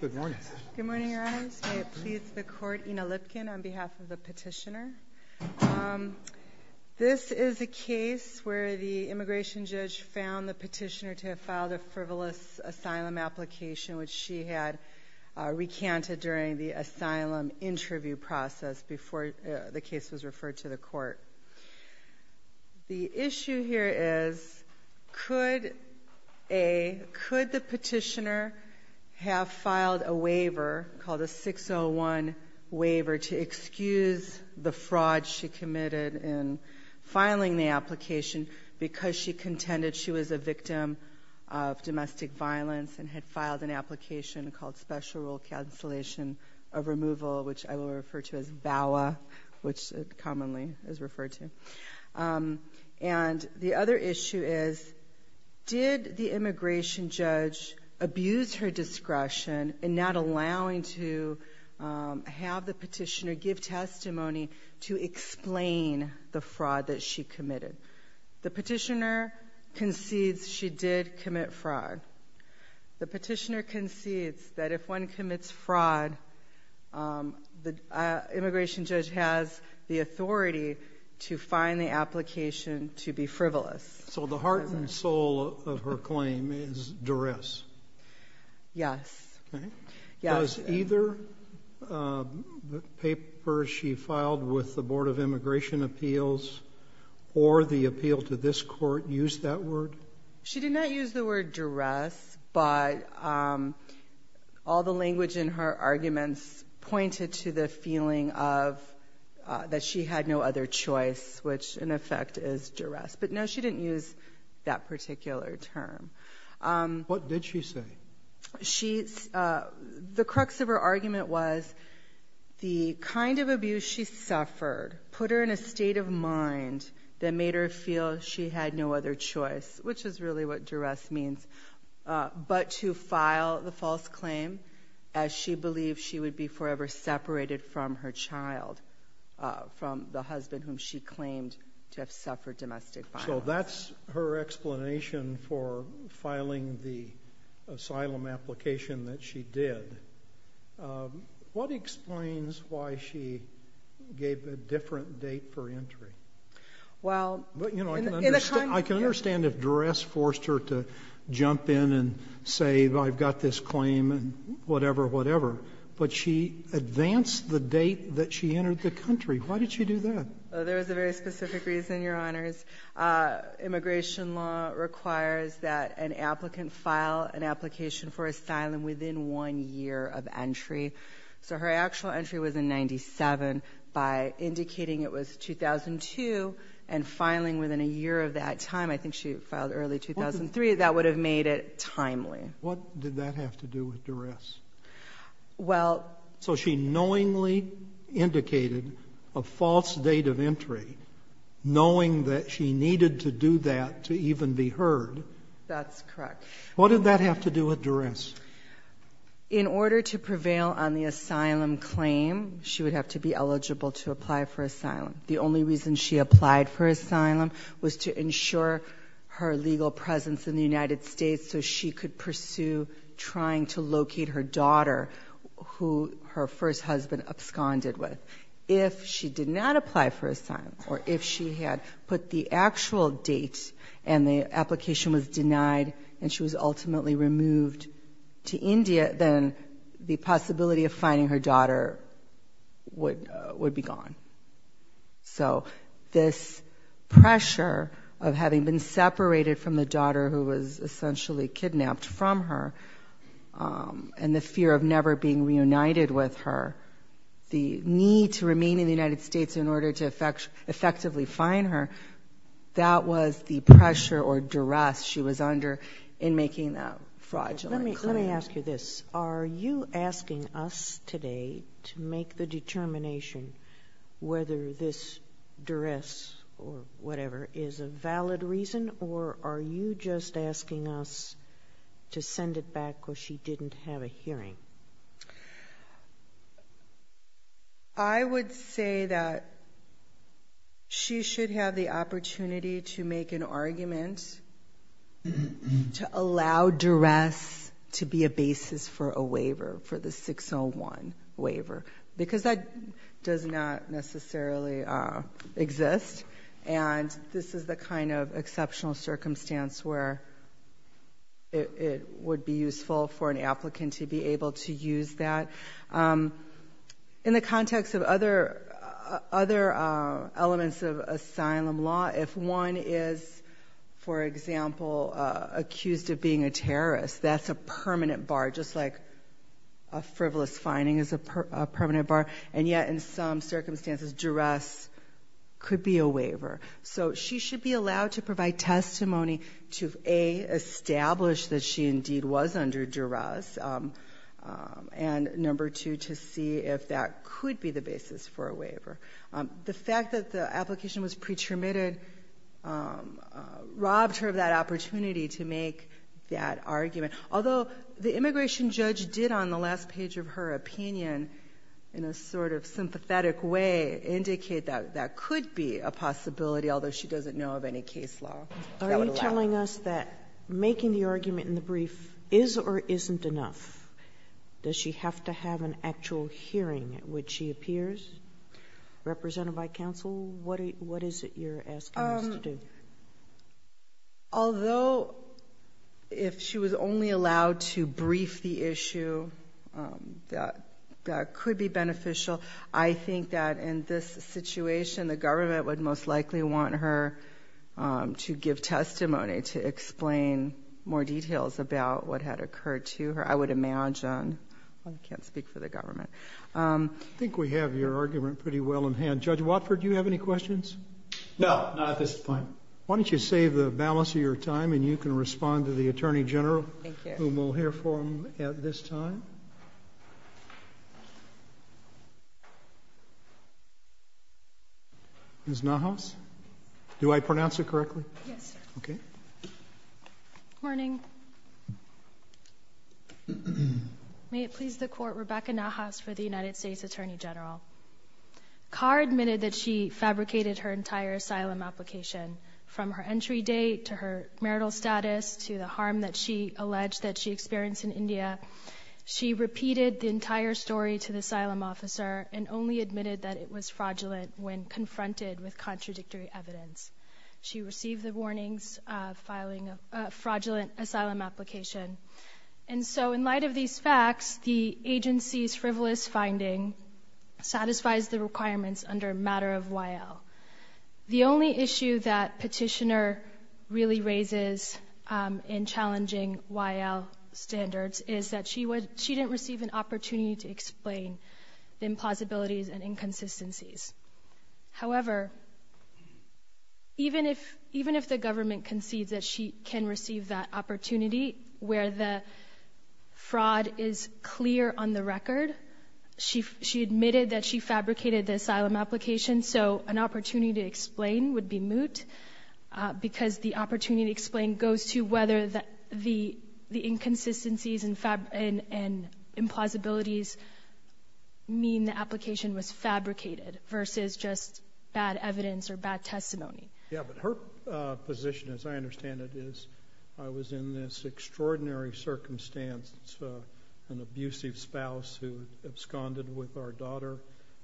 Good morning, Your Honors. May it please the court, Ina Lipkin, on behalf of the petitioner. This is a case where the immigration judge found the petitioner to have filed a frivolous asylum application, which she had recanted during the asylum interview process before the case was referred to the court. The issue here is, could the petitioner have filed a waiver called a 601 waiver to excuse the fraud she committed in filing the application because she contended she was a victim of domestic violence and had filed an application called Special Rule Cancellation of Removal, which I will refer to as VAWA, which it commonly is referred to. And the other issue is, did the immigration judge abuse her discretion in not allowing to have the petitioner give testimony to explain the fraud that she committed? The petitioner concedes she did commit fraud. The petitioner concedes that if one commits fraud, the immigration judge has the authority to find the application to be frivolous. So the heart and soul of her claim is duress? Yes. Does either the paper she filed with the Board of Immigration Appeals or the appeal to this court use that word? She did not use the word duress, but all the language in her arguments pointed to the feeling of that she had no other choice, which in effect is duress. But no, she didn't use that particular term. What did she say? The crux of her argument was the kind of abuse she suffered put her in a state of mind that made her feel she had no other choice, which is really what duress means, but to file the false claim as she believed she would be forever separated from her child, from the husband whom she claimed to have suffered domestic violence. So that's her explanation for filing the asylum application that she did. What explains why she gave a different date for entry? I can understand if duress forced her to jump in and say, I've got this claim and whatever, whatever, but she advanced the date that she entered the country. Why did she do that? There is a very specific reason, Your Honors. Immigration law requires that an applicant file an application for asylum within one year of entry. So her actual entry was in 97 by indicating it was 2002 and filing within a year of that time. I think she filed early 2003. That would have made it timely. What did that have to do with duress? Well... So she knowingly indicated a false date of entry, knowing that she needed to do that to even be heard. That's correct. What did that have to do with duress? In order to prevail on the asylum claim, she would have to be eligible to apply for asylum. The only reason she applied for asylum was to ensure her legal presence in the United States. If she did not apply for asylum, or if she had put the actual date and the application was denied and she was ultimately removed to India, then the possibility of finding her daughter would be gone. So this pressure of having been separated from the daughter who was essentially kidnapped from her, and the fear of never being reunited with her, the need to remain in the United States in order to effectively find her, that was the pressure or duress she was under in making that fraudulent claim. Let me ask you this. Are you asking us today to make the determination whether this duress or whatever is a valid reason, or are you just asking us to send it back because she didn't have a hearing? I would say that she should have the opportunity to make an argument to allow duress to be a basis for a waiver, for the 601 waiver, because that does not necessarily exist. And this is the kind of exceptional circumstance where it would be useful for an applicant to be able to use that. In the context of other elements of asylum law, if one is, for example, accused of being a terrorist, that's a permanent bar, just like a frivolous finding is a permanent bar. And yet in some circumstances, duress could be a waiver. So she should be allowed to provide testimony to A, establish that she indeed was under duress, and number two, to see if that could be the basis for a waiver. The fact that the application was pre-terminated robbed her of that opportunity to make that sort of sympathetic way indicate that that could be a possibility, although she doesn't know of any case law that would allow it. Are you telling us that making the argument in the brief is or isn't enough? Does she have to have an actual hearing at which she appears? Represented by counsel, what is it you're asking us to do? Although if she was only allowed to brief the issue, that could be beneficial to her and beneficial, I think that in this situation, the government would most likely want her to give testimony to explain more details about what had occurred to her. I would imagine – oh, I can't speak for the government. I think we have your argument pretty well in hand. Judge Watford, do you have any questions? No, not at this time. Why don't you save the balance of your time and you can respond to the Attorney General, whom we'll hear from at this time. Ms. Nahas? Do I pronounce it correctly? Yes, sir. May it please the Court, Rebecca Nahas for the United States Attorney General. Carr admitted that she fabricated her entire asylum application, from her entry date to her marital status to the harm that she alleged that she experienced in India. She repeated the entire story to the asylum officer and only admitted that it was fraudulent when confronted with contradictory evidence. She received the warnings of filing a fraudulent asylum application. And so in light of these facts, the agency's frivolous finding satisfies the requirements under a The only issue that Petitioner really raises in challenging YL standards is that she didn't receive an opportunity to explain the impossibilities and inconsistencies. However, even if the government concedes that she can receive that opportunity where the fraud is clear on the opportunity to explain would be moot, because the opportunity to explain goes to whether the inconsistencies and implausibilities mean the application was fabricated versus just bad evidence or bad testimony. Yeah, but her position, as I understand it, is I was in this extraordinary circumstance, an abusive spouse who absconded with our daughter,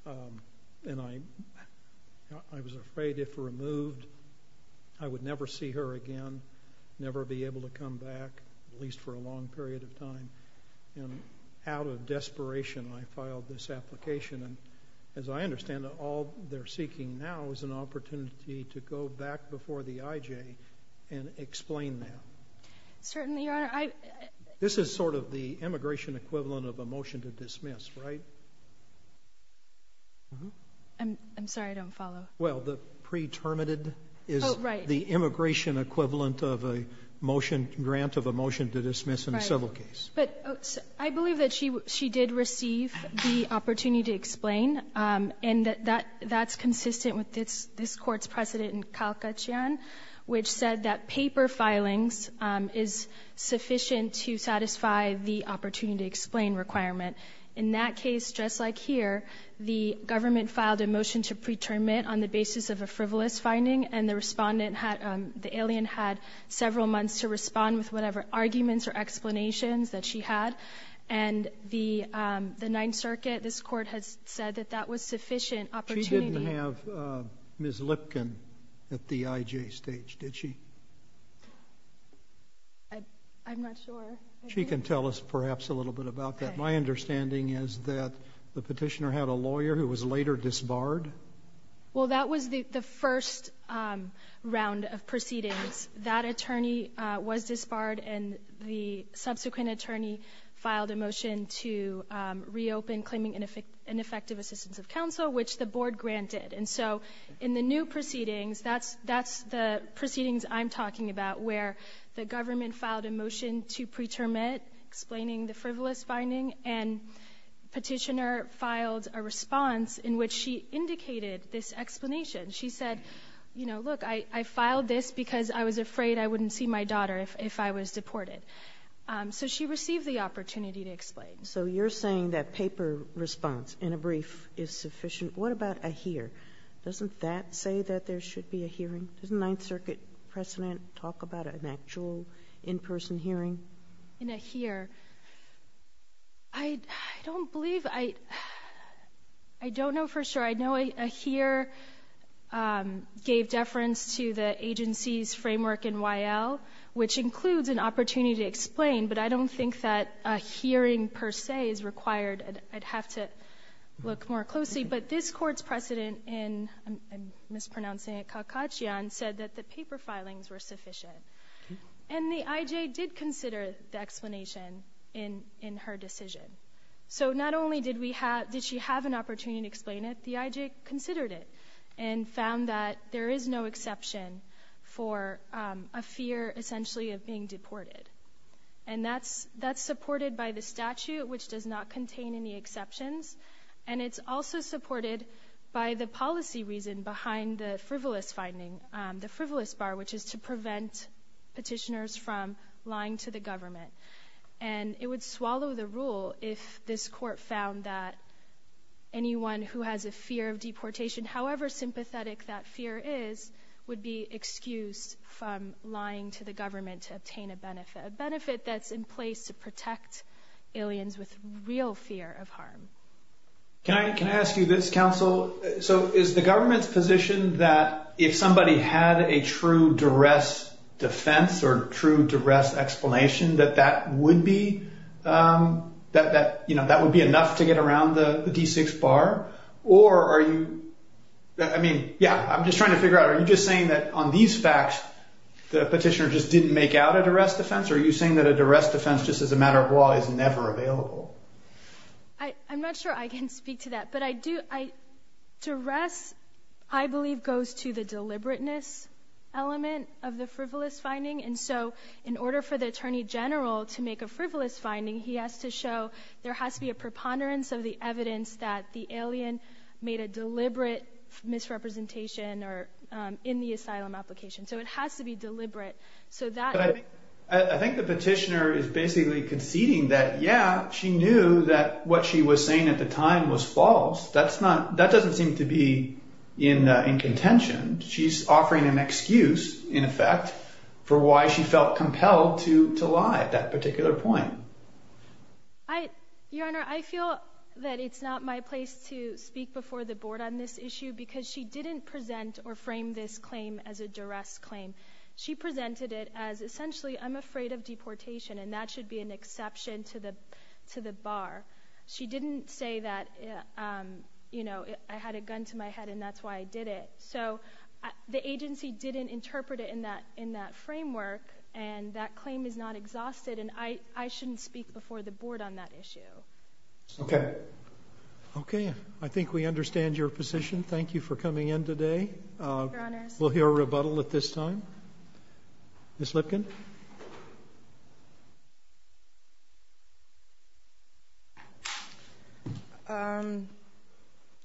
and I was afraid if removed, I would never see her again, never be able to come back, at least for a long period of time. And out of desperation, I filed this application. And as I understand it, all they're seeking now is an opportunity to go back before the IJ and explain that. Certainly, Your Honor. This is sort of the immigration equivalent of a motion to dismiss, right? I'm sorry, I don't follow. Well, the pre-terminated is the immigration equivalent of a motion, grant of a motion to dismiss in a civil case. But I believe that she did receive the opportunity to explain, and that's consistent with this Court's precedent in Calcatean, which said that paper filings is sufficient to satisfy the opportunity to explain requirement. In that case, just like here, the government filed a motion to pre-terminate on the basis of a frivolous finding, and the respondent had, the alien had several months to respond with whatever arguments or explanations that she had. And the Ninth Circuit, this Court has said that that was sufficient opportunity. But she didn't have Ms. Lipkin at the IJ stage, did she? I'm not sure. She can tell us perhaps a little bit about that. My understanding is that the petitioner had a lawyer who was later disbarred. Well, that was the first round of proceedings. That attorney was disbarred, and the subsequent attorney filed a motion to reopen claiming ineffective assistance of counsel, which the Board granted. And so, in the new proceedings, that's the proceedings I'm talking about, where the government filed a motion to pre-terminate, explaining the frivolous finding, and petitioner filed a response in which she indicated this explanation. She said, you know, look, I filed this because I was afraid I wouldn't see my daughter if I was deported. So she received the opportunity to explain. So you're saying that paper response in a brief is sufficient. What about a hear? Doesn't that say that there should be a hearing? Doesn't Ninth Circuit precedent talk about an actual in-person hearing? In a hear? I don't believe I, I don't know for sure. I know a hear gave deference to the agency's framework in Y.L., which includes an opportunity to explain, but I don't think that a hearing, per se, is required. I'd have to look more closely, but this court's precedent in, I'm mispronouncing it, Calcaccia, said that the paper filings were sufficient. And the I.J. did consider the explanation in, in her decision. So not only did we have, did she have an opportunity to explain it, the I.J. considered it and found that there is no exception for a fear, essentially, of being deported. And that's, that's supported by the statute, which does not contain any exceptions. And it's also supported by the policy reason behind the frivolous finding, the frivolous bar, which is to prevent petitioners from lying to the government. And it would swallow the rule if this court found that anyone who has a fear of deportation, however sympathetic that fear is, would be excused from lying to the government to obtain a benefit, a benefit that's in place to protect aliens with real fear of harm. Can I, can I ask you this, counsel? So is the government's position that if somebody had a true duress defense or true duress explanation, that that would be, that, that, you know, that would be enough to get around the D6 bar? Or are you, I mean, yeah, I'm just trying to figure out, are you just saying that on these facts, the petitioner just didn't make out a duress defense? Or are you saying that a duress defense just as a matter of law is never available? I'm not sure I can speak to that, but I do, I, duress, I believe goes to the deliberateness element of the frivolous finding. And so in order for the attorney general to make a frivolous finding, he has to show, there has to be a preponderance of the evidence that the alien made a deliberate misrepresentation or in the asylum application. So it has to be deliberate. So that I think the petitioner is basically conceding that, yeah, she knew that what she was saying at the time was false. That's not, that doesn't seem to be in contention. She's Your Honor, I feel that it's not my place to speak before the board on this issue because she didn't present or frame this claim as a duress claim. She presented it as essentially, I'm afraid of deportation and that should be an exception to the, to the bar. She didn't say that, you know, I had a gun to my head and that's why I did it. So the agency didn't interpret it in that, in that framework and that claim is not exhausted. And I, I shouldn't speak before the board on that issue. Okay. Okay. I think we understand your position. Thank you for coming in today. We'll hear a rebuttal at this time. Ms. Lipkin. Um,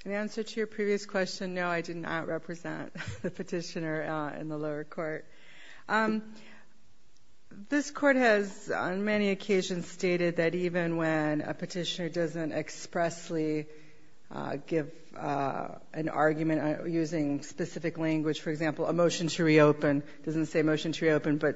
in answer to your previous question, no, I did not represent the petitioner in the lower court. Um, this court has on many occasions stated that even when a petitioner doesn't expressly, uh, give, uh, an argument using specific language, for example, a motion to reopen doesn't say motion to reopen, but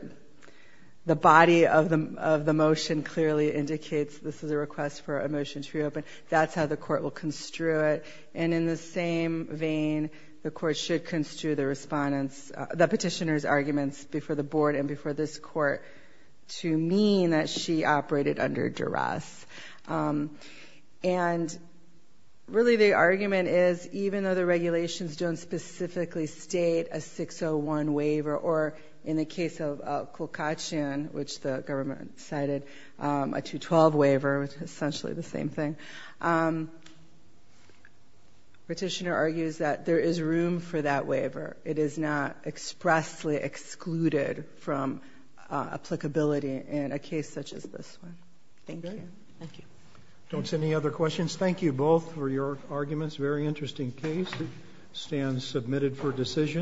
the body of the, of the motion clearly indicates this is a request for a motion to reopen. That's how the court will construe it. And in the same vein, the court should construe the respondent's, uh, the petitioner's arguments before the board and before this court to mean that she operated under duress. Um, and really the argument is even though the regulations don't specifically state a 601 waiver or in the case of, uh, Kulkachan, which the government cited, um, a 212 waiver, which is essentially the same thing. Um, petitioner argues that there is room for that waiver. It is not expressly excluded from, uh, applicability in a case such as this one. Thank you. Thank you. Don't send any other questions. Thank you both for your arguments. Very interesting case. Stand submitted for decision.